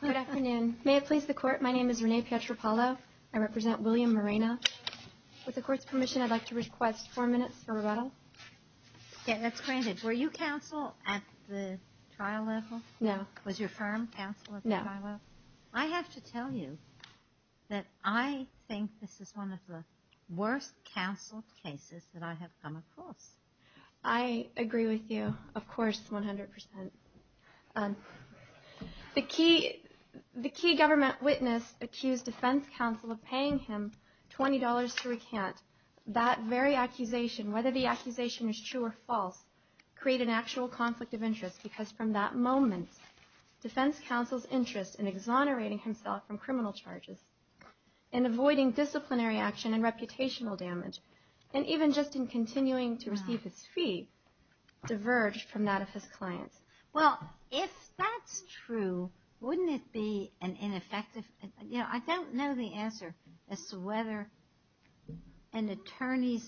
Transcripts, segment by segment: Good afternoon. May it please the court, my name is Renee Pietropalo. I represent William Morena. With the court's permission, I'd like to request four minutes for rebuttal. Yes, that's granted. Were you counsel at the trial level? No. Was your firm counsel at the trial level? No. I have to tell you that I think this is one of the worst counsel cases that I have come across. I agree with you, of course, 100%. The key government witness accused defense counsel of paying him $20 to recant. That very accusation, whether the accusation is true or false, created an actual conflict of interest because from that moment, defense counsel's interest in exonerating himself from criminal charges and avoiding disciplinary action and reputational damage and even just in continuing to receive his fee, diverged from that of his clients. Well, if that's true, wouldn't it be an ineffective? You know, I don't know the answer as to whether an attorney's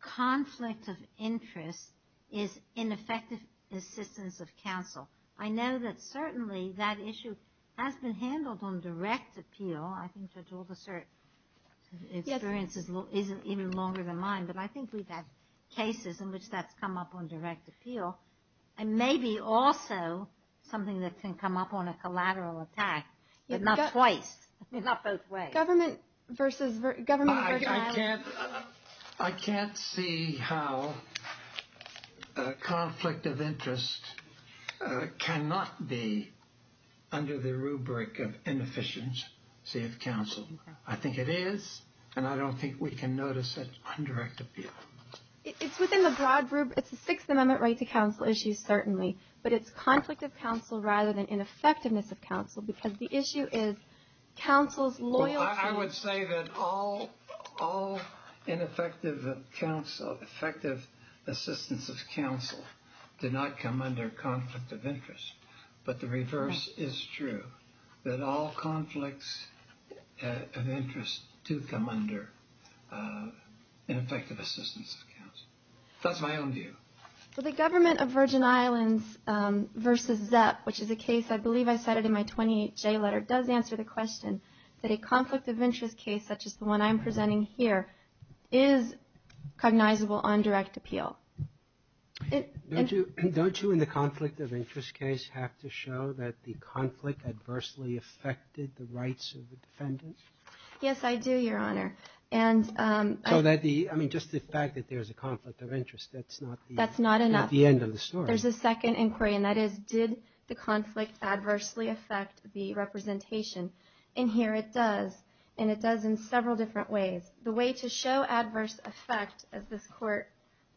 conflict of interest is ineffective assistance of counsel. I know that certainly that issue has been handled on direct appeal. I think Judge Aldersert's experience isn't even longer than mine, but I think we've had cases in which that's come up on direct appeal and maybe also something that can come up on a collateral attack, but not twice, not both ways. I can't see how a conflict of interest cannot be under the rubric of inefficiency of counsel. I think it is, and I don't think we can notice it on direct appeal. It's a Sixth Amendment right to counsel issue, certainly, but it's conflict of counsel rather than ineffectiveness of counsel because the issue is counsel's loyalty... Well, I would say that all ineffective assistance of counsel did not come under conflict of interest, but the reverse is true, that all conflicts of interest do come under ineffective assistance of counsel. That's my own view. Well, the government of Virgin Islands versus ZEP, which is a case I believe I cited in my 28J letter, does answer the question that a conflict of interest case such as the one I'm presenting here is cognizable on direct appeal. Don't you in the conflict of interest case have to show that the conflict adversely affected the rights of the defendant? Yes, I do, Your Honor. So just the fact that there's a conflict of interest, that's not the end of the story. That's not enough. There's a second inquiry, and that is did the conflict adversely affect the representation? In here it does, and it does in several different ways. The way to show adverse effect, as this Court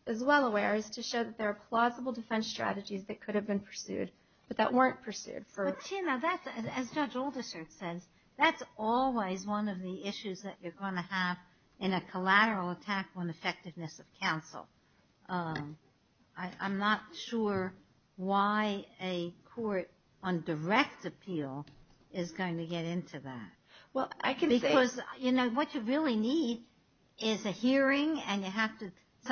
is well aware, is to show that there are plausible defense strategies that could have been pursued but that weren't pursued. But, Tina, that's, as Judge Aldersert says, that's always one of the issues that you're going to have in a collateral attack on effectiveness of counsel. I'm not sure why a court on direct appeal is going to get into that. Well, I can say — Because, you know, what you really need is a hearing, and you have to —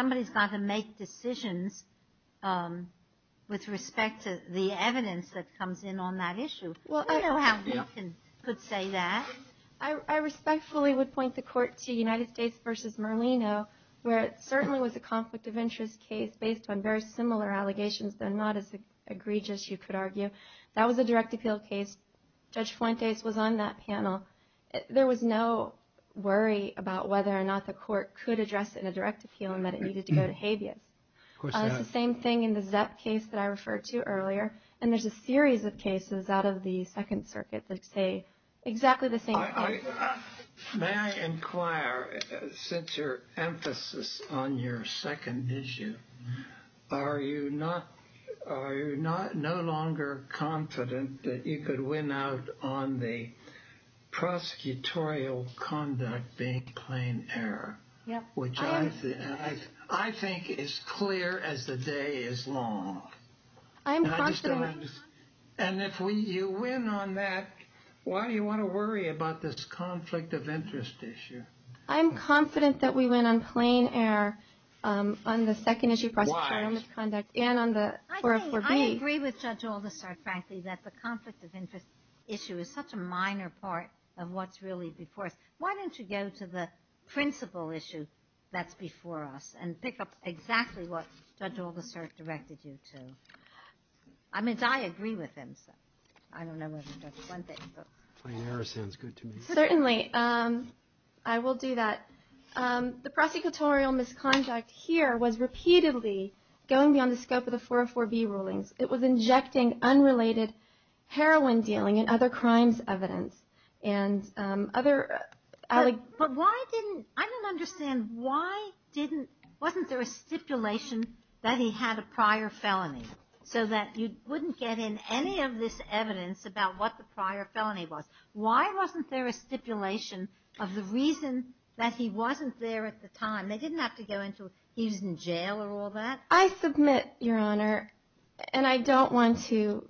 Well, I don't know how you could say that. I respectfully would point the Court to United States v. Merlino, where it certainly was a conflict of interest case based on very similar allegations, though not as egregious, you could argue. That was a direct appeal case. Judge Fuentes was on that panel. There was no worry about whether or not the Court could address it in a direct appeal and that it needed to go to habeas. Of course not. It's the same thing in the Zepp case that I referred to earlier, and there's a series of cases out of the Second Circuit that say exactly the same thing. May I inquire, since your emphasis on your second issue, are you no longer confident that you could win out on the prosecutorial conduct being plain error? Yep. I think as clear as the day is long. I'm confident. And if you win on that, why do you want to worry about this conflict of interest issue? I'm confident that we win on plain error on the second issue of prosecutorial misconduct and on the 404B. I agree with Judge Aldister, frankly, that the conflict of interest issue is such a minor part of what's really before us. Why don't you go to the principal issue that's before us and pick up exactly what Judge Aldister directed you to? I mean, I agree with him. I don't know whether Judge Fuentes. Plain error sounds good to me. Certainly. I will do that. The prosecutorial misconduct here was repeatedly going beyond the scope of the 404B rulings. It was injecting unrelated heroin dealing and other crimes evidence and other... But why didn't... I don't understand why didn't... Wasn't there a stipulation that he had a prior felony so that you wouldn't get in any of this evidence about what the prior felony was? Why wasn't there a stipulation of the reason that he wasn't there at the time? They didn't have to go into he was in jail or all that? I submit, Your Honor, and I don't want to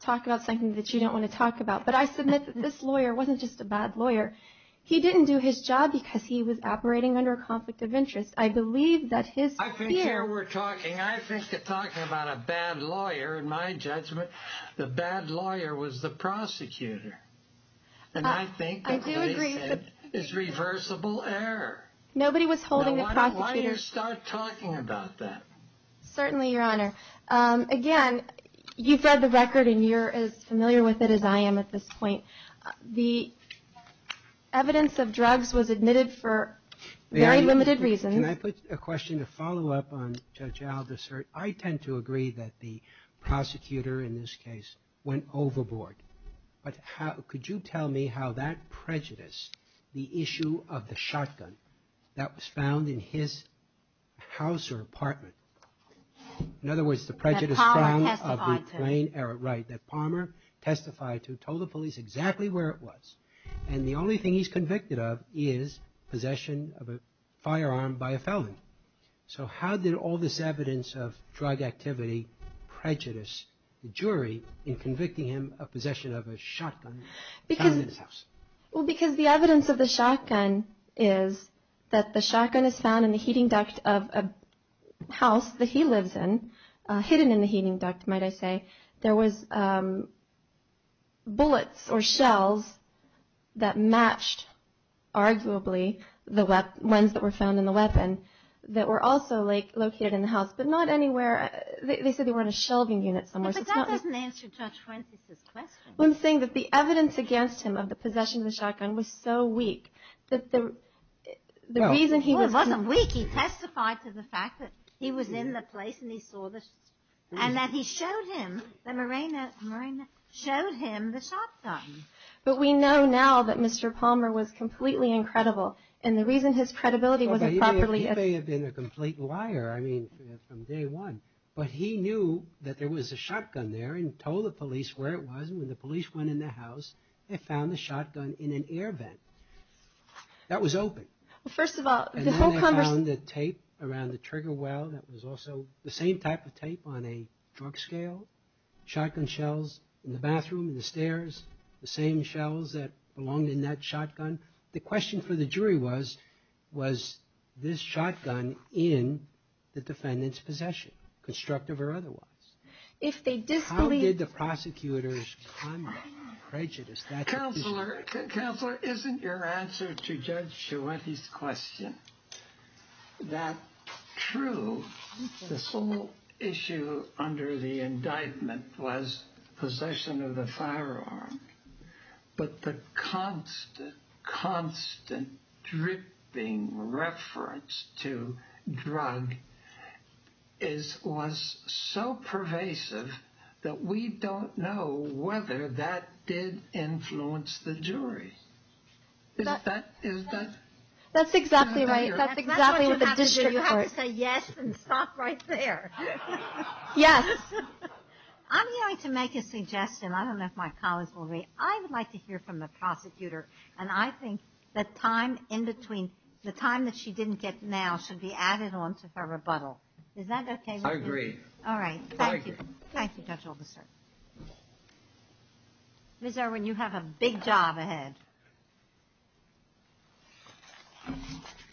talk about something that you don't want to talk about, but I submit that this lawyer wasn't just a bad lawyer. He didn't do his job because he was operating under a conflict of interest. I believe that his fear... I think you're talking about a bad lawyer. In my judgment, the bad lawyer was the prosecutor. And I think that what he said is reversible error. Nobody was holding the prosecutor... Why don't you start talking about that? Certainly, Your Honor. Again, you've read the record, and you're as familiar with it as I am at this point. The evidence of drugs was admitted for very limited reasons. Can I put a question to follow up on Judge Aldis? I tend to agree that the prosecutor in this case went overboard. But could you tell me how that prejudiced the issue of the shotgun that was found in his house or apartment? In other words, the prejudice found... That Palmer testified to. Right, that Palmer testified to, told the police exactly where it was. And the only thing he's convicted of is possession of a firearm by a felon. So how did all this evidence of drug activity prejudice the jury in convicting him of possession of a shotgun found in his house? Well, because the evidence of the shotgun is that the shotgun is found in the heating duct of a house that he lives in, hidden in the heating duct, might I say. There was bullets or shells that matched, arguably, the ones that were found in the weapon that were also located in the house, but not anywhere... They said they were in a shelving unit somewhere, so it's not... But that doesn't answer Judge Francis' question. Well, I'm saying that the evidence against him of the possession of the shotgun was so weak that the reason he was... I think he testified to the fact that he was in the place and he saw the... And that he showed him, that Marina showed him the shotgun. But we know now that Mr. Palmer was completely incredible, and the reason his credibility wasn't properly... He may have been a complete liar, I mean, from day one. But he knew that there was a shotgun there and told the police where it was, and when the police went in the house, they found the shotgun in an air vent. That was open. Well, first of all, the whole conversation... And then they found the tape around the trigger well that was also the same type of tape on a drug scale, shotgun shells in the bathroom, in the stairs, the same shells that belonged in that shotgun. The question for the jury was, was this shotgun in the defendant's possession, constructive or otherwise? If they disbelieve... How did the prosecutors come to prejudice that... Counselor, Counselor, isn't your answer to Judge Schuette's question that true? The sole issue under the indictment was possession of the firearm, but the constant, constant dripping reference to drug was so pervasive that we don't know whether that did influence the jury. Is that... That's exactly right. That's exactly what the district court... That's what you have to do. You have to say yes and stop right there. Yes. I'm going to make a suggestion. I don't know if my colleagues will agree. I would like to hear from the prosecutor, and I think that time in between, the time that she didn't get now, should be added on to her rebuttal. Is that okay with you? I agree. All right. Thank you. Thank you, Judge Oldenstern. Ms. Irwin, you have a big job ahead.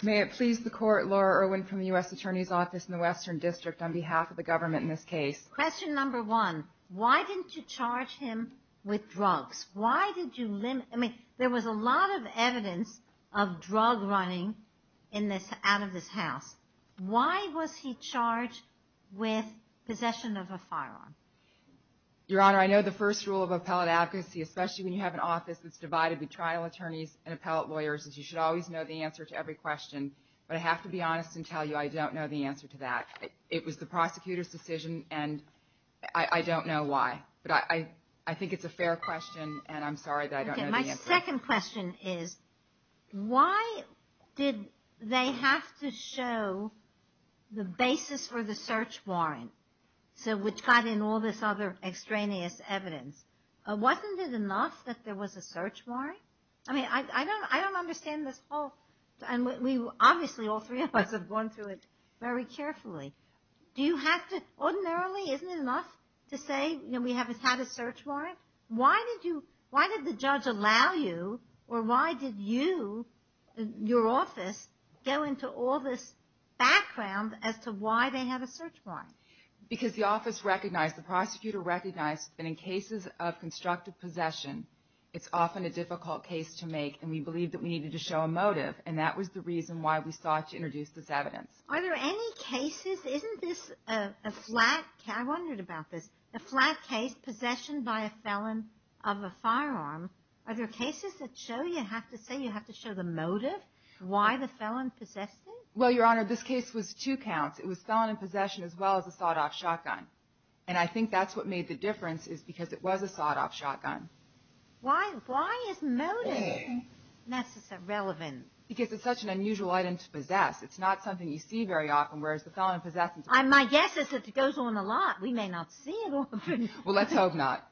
May it please the Court, Laura Irwin from the U.S. Attorney's Office in the Western District, on behalf of the government in this case. Question number one, why didn't you charge him with drugs? Why did you limit... I mean, there was a lot of evidence of drug running out of this house. Why was he charged with possession of a firearm? Your Honor, I know the first rule of appellate advocacy, especially when you have an office that's divided between trial attorneys and appellate lawyers, is you should always know the answer to every question. But I have to be honest and tell you I don't know the answer to that. It was the prosecutor's decision, and I don't know why. But I think it's a fair question, and I'm sorry that I don't know the answer. My second question is, why did they have to show the basis for the search warrant, which got in all this other extraneous evidence? Wasn't it enough that there was a search warrant? I mean, I don't understand this whole... Obviously, all three of us have gone through it very carefully. Do you have to... Ordinarily, isn't it enough to say we have had a search warrant? Why did you... Why did the judge allow you, or why did you, your office, go into all this background as to why they had a search warrant? Because the office recognized, the prosecutor recognized, that in cases of constructive possession, it's often a difficult case to make, and we believed that we needed to show a motive. And that was the reason why we sought to introduce this evidence. Are there any cases... Isn't this a flat... I wondered about this. A flat case, possession by a felon of a firearm. Are there cases that show you have to say, you have to show the motive, why the felon possessed it? Well, Your Honor, this case was two counts. It was felon in possession, as well as a sawed-off shotgun. And I think that's what made the difference, is because it was a sawed-off shotgun. Why is motive necessary... relevant? Because it's such an unusual item to possess. It's not something you see very often, whereas the felon in possession... My guess is that it goes on a lot. We may not see it often. Well, let's hope not.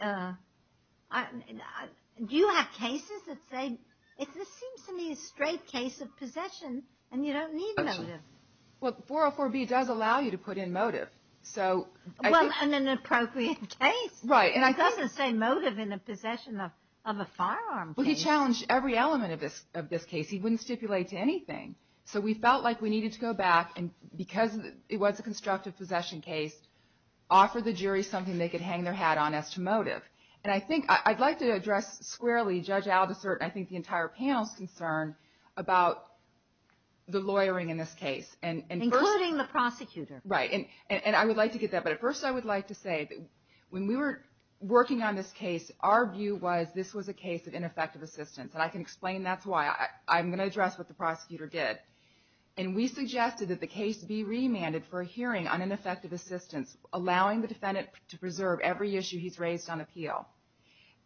Do you have cases that say, this seems to me a straight case of possession, and you don't need motive. Well, 404B does allow you to put in motive. Well, in an appropriate case. Right. It doesn't say motive in a possession of a firearm case. Well, he challenged every element of this case. He wouldn't stipulate to anything. So we felt like we needed to go back, and because it was a constructive possession case, offer the jury something they could hang their hat on as to motive. And I think I'd like to address squarely, Judge Aldisert, and I think the entire panel's concern, about the lawyering in this case. Including the prosecutor. Right. And I would like to get that, but first I would like to say that when we were working on this case, our view was this was a case of ineffective assistance. And I can explain that's why. I'm going to address what the prosecutor did. And we suggested that the case be remanded for a hearing on ineffective assistance, allowing the defendant to preserve every issue he's raised on appeal.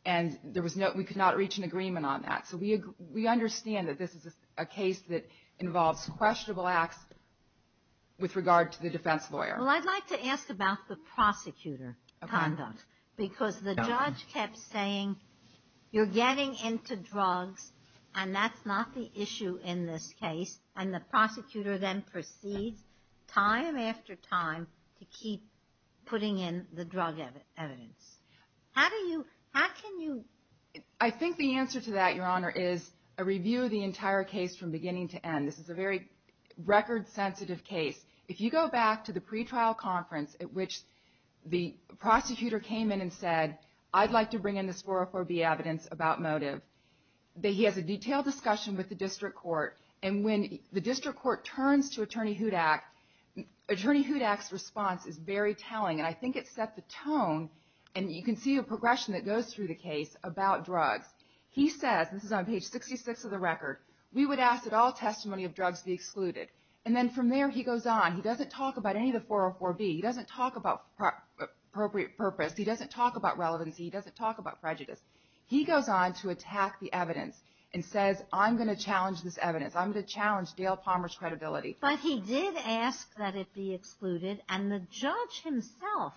And there was no, we could not reach an agreement on that. So we understand that this is a case that involves questionable acts with regard to the defense lawyer. Well, I'd like to ask about the prosecutor conduct. Okay. Because the judge kept saying, you're getting into drugs and that's not the issue in this case. And the prosecutor then proceeds time after time to keep putting in the drug evidence. How do you, how can you? I think the answer to that, Your Honor, is a review of the entire case from beginning to end. This is a very record sensitive case. If you go back to the pretrial conference, at which the prosecutor came in and said, I'd like to bring in this 404B evidence about motive. He has a detailed discussion with the district court. And when the district court turns to Attorney Hudak, Attorney Hudak's response is very telling. And I think it set the tone. And you can see a progression that goes through the case about drugs. He says, this is on page 66 of the record, we would ask that all testimony of drugs be excluded. And then from there he goes on. He doesn't talk about any of the 404B. He doesn't talk about appropriate purpose. He doesn't talk about relevancy. He doesn't talk about prejudice. He goes on to attack the evidence and says, I'm going to challenge this evidence. I'm going to challenge Dale Palmer's credibility. But he did ask that it be excluded. And the judge himself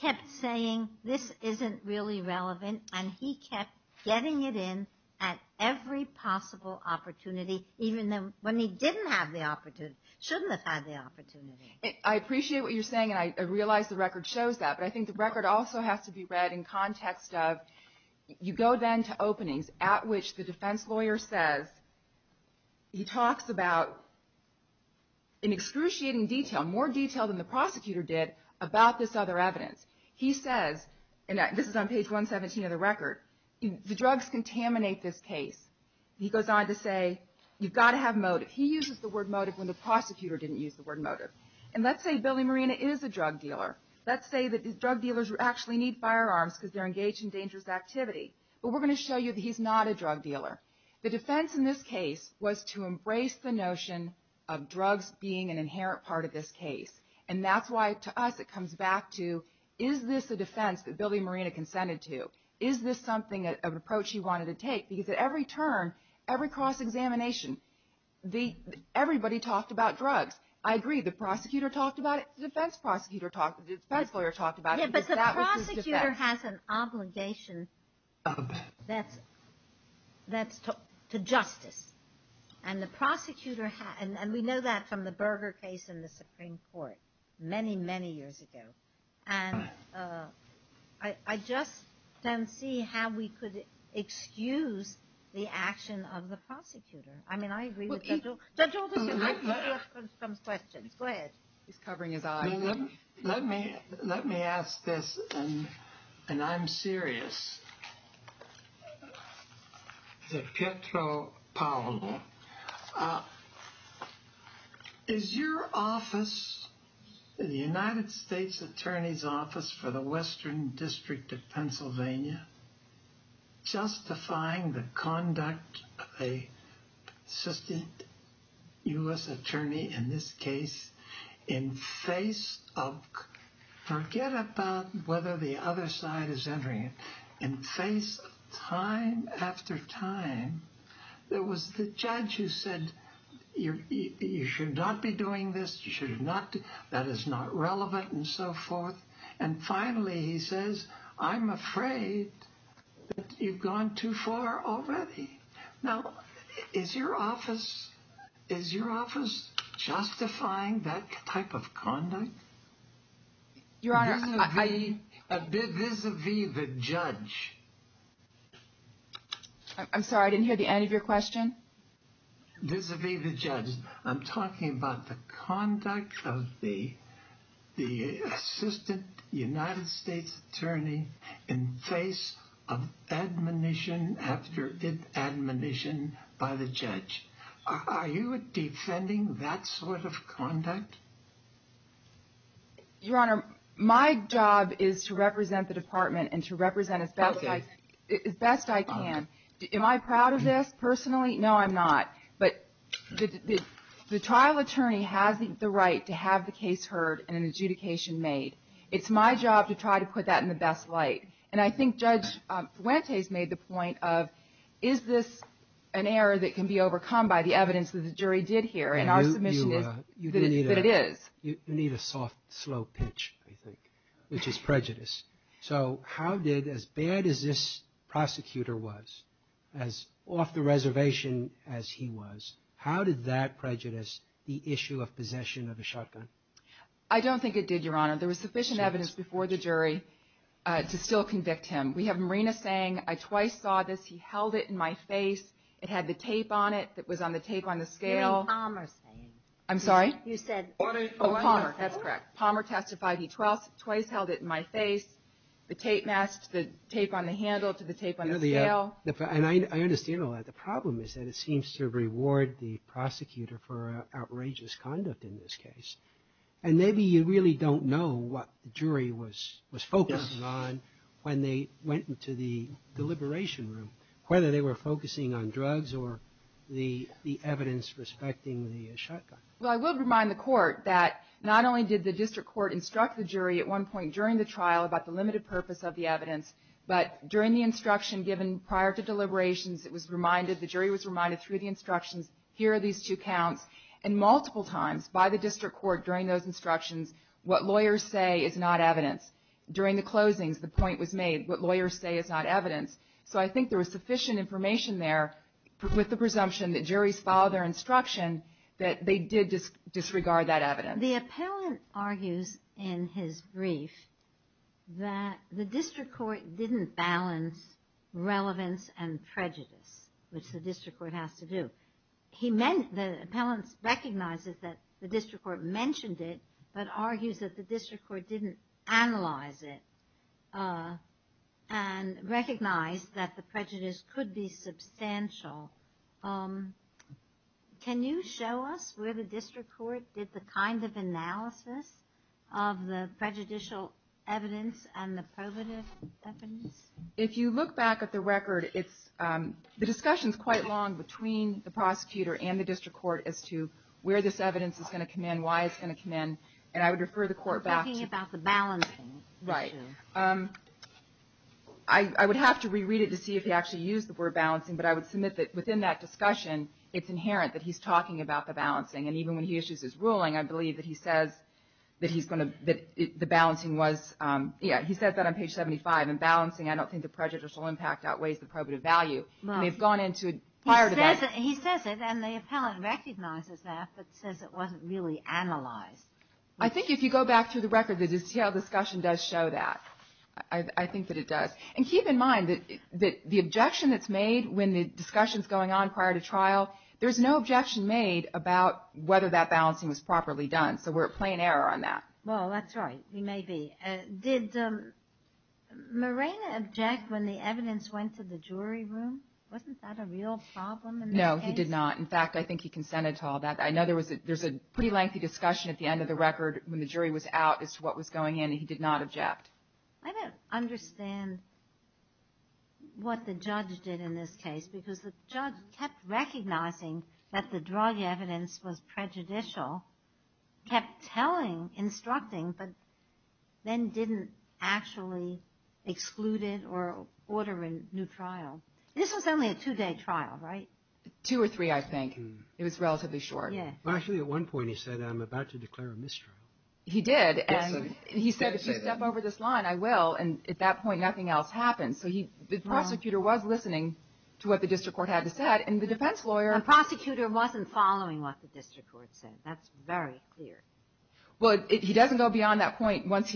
kept saying, this isn't really relevant. And he kept getting it in at every possible opportunity, even when he didn't have the opportunity, shouldn't have had the opportunity. I appreciate what you're saying. And I realize the record shows that. But I think the record also has to be read in context of, you go then to openings at which the defense lawyer says, he talks about in excruciating detail, more detail than the prosecutor did, about this other evidence. He says, and this is on page 117 of the record, the drugs contaminate this case. He goes on to say, you've got to have motive. He uses the word motive when the prosecutor didn't use the word motive. And let's say Billy Marina is a drug dealer. Let's say that drug dealers actually need firearms because they're engaged in dangerous activity. But we're going to show you that he's not a drug dealer. The defense in this case was to embrace the notion of drugs being an inherent part of this case. And that's why to us it comes back to, is this a defense that Billy Marina consented to? Is this something, an approach he wanted to take? Because at every turn, every cross-examination, everybody talked about drugs. I agree, the prosecutor talked about it. The defense lawyer talked about it. Yeah, but the prosecutor has an obligation to justice. And the prosecutor, and we know that from the Burger case in the Supreme Court many, many years ago. And I just don't see how we could excuse the action of the prosecutor. I mean, I agree with Judge Oldham. Judge Oldham, I have a couple of questions. Go ahead. He's covering his eyes. Let me ask this, and I'm serious. Pietro Paolo, is your office, the United States Attorney's Office for the Western District of Pennsylvania, justifying the conduct of an assistant U.S. attorney, in this case, in face of, forget about whether the other side is entering it, in face of time after time, there was the judge who said, you should not be doing this, that is not relevant, and so forth. And finally, he says, I'm afraid that you've gone too far already. Now, is your office, is your office justifying that type of conduct? Your Honor, I... Vis-a-vis the judge. I'm sorry, I didn't hear the end of your question. Vis-a-vis the judge. I'm talking about the conduct of the assistant United States attorney, in face of admonition after admonition by the judge. Are you defending that sort of conduct? Your Honor, my job is to represent the department, and to represent as best I can. Am I proud of this, personally? No, I'm not. But the trial attorney has the right to have the case heard and an adjudication made. It's my job to try to put that in the best light. And I think Judge Fuentes made the point of, is this an error that can be overcome by the evidence that the jury did hear? And our submission is that it is. You need a soft, slow pitch, I think, which is prejudice. So how did, as bad as this prosecutor was, as off the reservation as he was, how did that prejudice the issue of possession of a shotgun? I don't think it did, Your Honor. There was sufficient evidence before the jury to still convict him. We have Marina saying, I twice saw this. He held it in my face. It had the tape on it that was on the tape on the scale. You had Palmer saying. I'm sorry? You said Palmer. Palmer, that's correct. Palmer testified he twice held it in my face. The tape on the handle to the tape on the scale. And I understand all that. The problem is that it seems to reward the prosecutor for outrageous conduct in this case. And maybe you really don't know what the jury was focusing on when they went into the deliberation room, whether they were focusing on drugs or the evidence respecting the shotgun. Well, I will remind the court that not only did the district court instruct the jury at one point during the trial about the limited purpose of the evidence, but during the instruction given prior to deliberations, it was reminded, the jury was reminded through the instructions, here are these two counts, and multiple times by the district court during those instructions, what lawyers say is not evidence. During the closings, the point was made, what lawyers say is not evidence. So I think there was sufficient information there with the presumption that juries followed their instruction that they did disregard that evidence. The appellant argues in his brief that the district court didn't balance relevance and prejudice, which the district court has to do. He meant, the appellant recognizes that the district court mentioned it, but argues that the district court didn't analyze it and recognize that the prejudice could be substantial. Can you show us where the district court did the kind of analysis of the prejudicial evidence and the probative evidence? If you look back at the record, the discussion is quite long between the prosecutor and the district court as to where this evidence is going to come in, why it's going to come in, and I would refer the court back to... You're talking about the balancing issue. Right. I would have to reread it to see if he actually used the word balancing, but I would submit that within that discussion, it's inherent that he's talking about the balancing. And even when he issues his ruling, I believe that he says that he's going to, that the balancing was, yeah, he said that on page 75. In balancing, I don't think the prejudicial impact outweighs the probative value. They've gone into prior to that. He says it, and the appellant recognizes that, but says it wasn't really analyzed. I think if you go back through the record, the detailed discussion does show that. I think that it does. And keep in mind that the objection that's made when the discussion's going on prior to trial, there's no objection made about whether that balancing was properly done. So we're at plain error on that. Well, that's right. We may be. Did Morena object when the evidence went to the jury room? Wasn't that a real problem in this case? No, he did not. In fact, I think he consented to all that. I know there's a pretty lengthy discussion at the end of the record when the jury was out as to what was going in, and he did not object. I don't understand what the judge did in this case, because the judge kept recognizing that the drug evidence was prejudicial, kept telling, instructing, but then didn't actually exclude it or order a new trial. This was only a two-day trial, right? Two or three, I think. It was relatively short. Actually, at one point he said, I'm about to declare a mistrial. He did. And he said, if you step over this line, I will. And at that point, nothing else happened. So the prosecutor was listening to what the district court had to say. And the defense lawyer — The prosecutor wasn't following what the district court said. That's very clear. Well, he doesn't go beyond that point. Once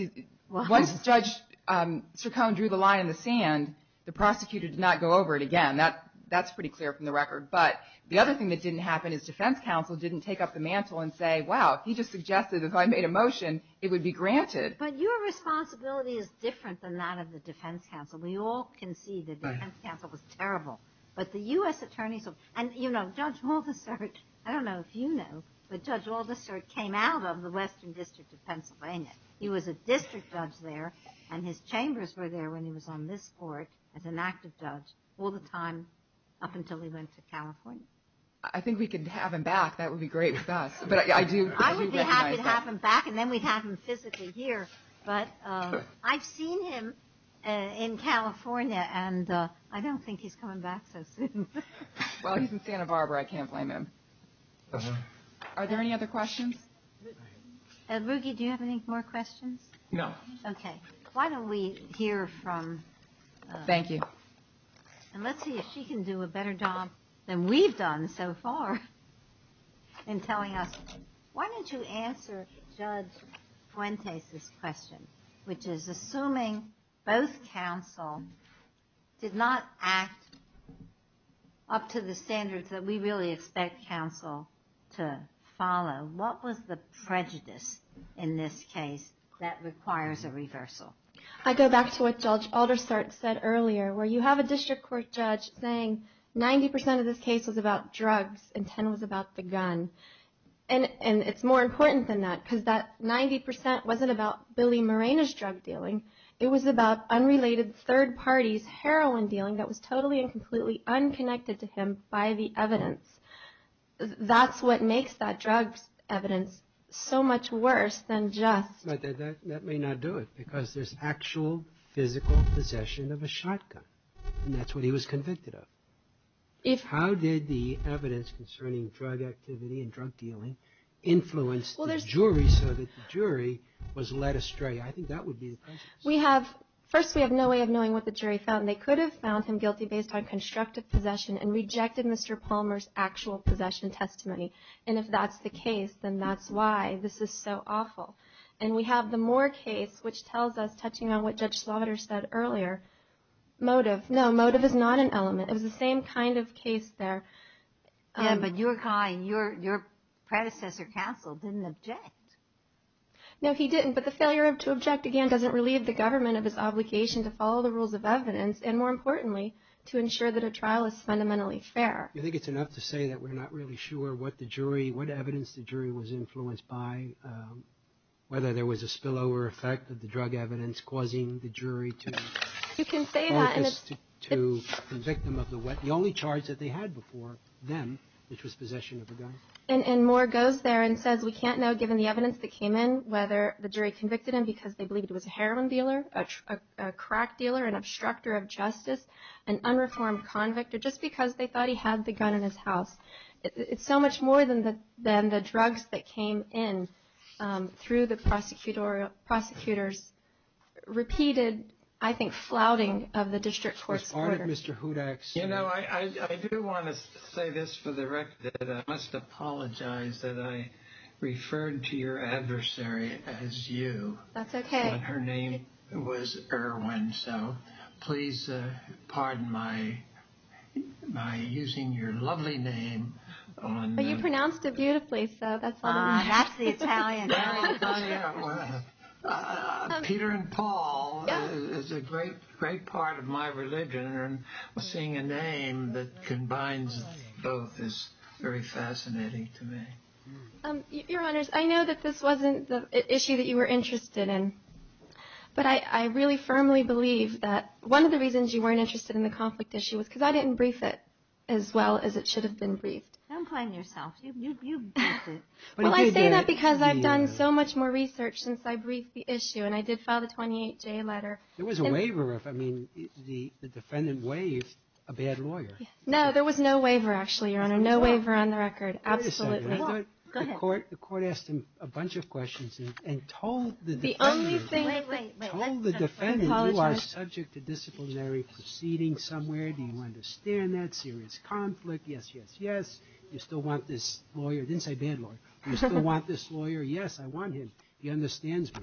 Judge Cercone drew the line in the sand, the prosecutor did not go over it again. That's pretty clear from the record. But the other thing that didn't happen is defense counsel didn't take up the mantle and say, wow, he just suggested if I made a motion, it would be granted. But your responsibility is different than that of the defense counsel. We all can see the defense counsel was terrible. But the U.S. attorneys — and, you know, Judge Woldesert, I don't know if you know, but Judge Woldesert came out of the Western District of Pennsylvania. He was a district judge there, and his chambers were there when he was on this court as an active judge all the time up until he went to California. I think we could have him back. That would be great with us. But I do recognize that. I would be happy to have him back, and then we'd have him physically here. But I've seen him in California, and I don't think he's coming back so soon. Well, he's in Santa Barbara. I can't blame him. Are there any other questions? Ruggie, do you have any more questions? No. Okay. Why don't we hear from — Thank you. And let's see if she can do a better job than we've done so far in telling us. Why don't you answer Judge Fuentes' question, which is, assuming both counsel did not act up to the standards that we really expect counsel to follow, what was the prejudice in this case that requires a reversal? I go back to what Judge Aldersart said earlier, where you have a district court judge saying 90 percent of this case was about drugs and 10 was about the gun. And it's more important than that, because that 90 percent wasn't about Billy Morena's drug dealing. It was about unrelated third parties' heroin dealing that was totally and completely unconnected to him by the evidence. But that may not do it, because there's actual physical possession of a shotgun. And that's what he was convicted of. How did the evidence concerning drug activity and drug dealing influence the jury so that the jury was led astray? I think that would be the question. First, we have no way of knowing what the jury found. They could have found him guilty based on constructive possession and rejected Mr. Palmer's actual possession testimony. And if that's the case, then that's why this is so awful. And we have the Moore case, which tells us, touching on what Judge Slaughter said earlier, motive. No, motive is not an element. It was the same kind of case there. Yeah, but your predecessor counsel didn't object. No, he didn't. But the failure to object, again, doesn't relieve the government of its obligation to follow the rules of evidence and, more importantly, to ensure that a trial is fundamentally fair. Do you think it's enough to say that we're not really sure what the jury, what evidence the jury was influenced by, whether there was a spillover effect of the drug evidence, causing the jury to focus to the victim of the only charge that they had before them, which was possession of a gun? And Moore goes there and says we can't know, given the evidence that came in, whether the jury convicted him because they believed it was a heroin dealer, a crack dealer, an obstructor of justice, an unreformed convict, or just because they thought he had the gun in his house. It's so much more than the drugs that came in through the prosecutor's repeated, I think, flouting of the district court's order. I do want to say this for the record. I must apologize that I referred to your adversary as you. That's okay. Her name was Irwin, so please pardon my using your lovely name. But you pronounced it beautifully, so that's all that matters. Ah, that's the Italian. Peter and Paul is a great part of my religion, and seeing a name that combines both is very fascinating to me. Your Honors, I know that this wasn't the issue that you were interested in, but I really firmly believe that one of the reasons you weren't interested in the conflict issue was because I didn't brief it as well as it should have been briefed. Don't blame yourself. You briefed it. Well, I say that because I've done so much more research since I briefed the issue, and I did file the 28J letter. There was a waiver. I mean, the defendant waived a bad lawyer. No, there was no waiver, actually, Your Honor, no waiver on the record, absolutely. The court asked him a bunch of questions and told the defendant, told the defendant, you are subject to disciplinary proceedings somewhere. Do you understand that? Serious conflict. Yes, yes, yes. You still want this lawyer. Didn't say bad lawyer. You still want this lawyer. Yes, I want him. He understands me.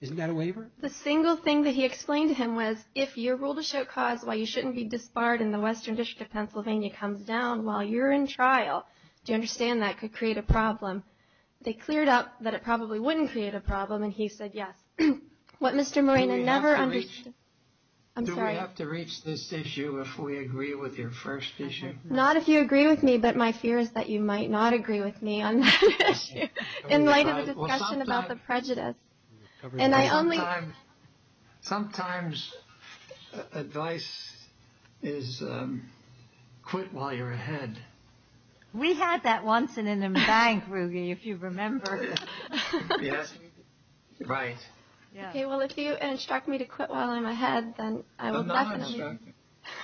Isn't that a waiver? The single thing that he explained to him was, if you rule to show cause while you shouldn't be disbarred and the Western District of Pennsylvania comes down while you're in trial, do you understand that could create a problem? They cleared up that it probably wouldn't create a problem, and he said yes. What Mr. Moreno never understood. Do we have to reach this issue if we agree with your first issue? Not if you agree with me, but my fear is that you might not agree with me on that issue, in light of the discussion about the prejudice. Sometimes advice is quit while you're ahead. We had that once in an embank, Ruge, if you remember. Yes, right. Okay, well, if you instruct me to quit while I'm ahead, then I will definitely. No, no, I instruct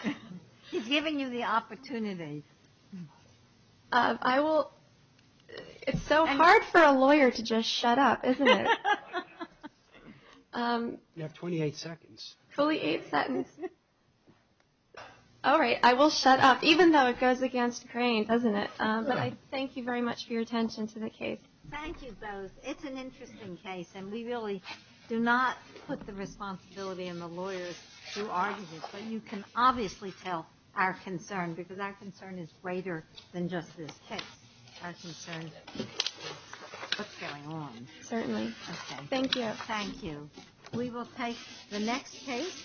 you. He's giving you the opportunity. I will. It's so hard for a lawyer to just shut up, isn't it? You have 28 seconds. Fully eight seconds. All right, I will shut up, even though it goes against the grain, doesn't it? But I thank you very much for your attention to the case. Thank you both. It's an interesting case, and we really do not put the responsibility on the lawyers to argue this, but you can obviously tell our concern, because our concern is greater than just this case. Our concern is what's going on. Certainly. Thank you. Thank you. We will take the next case.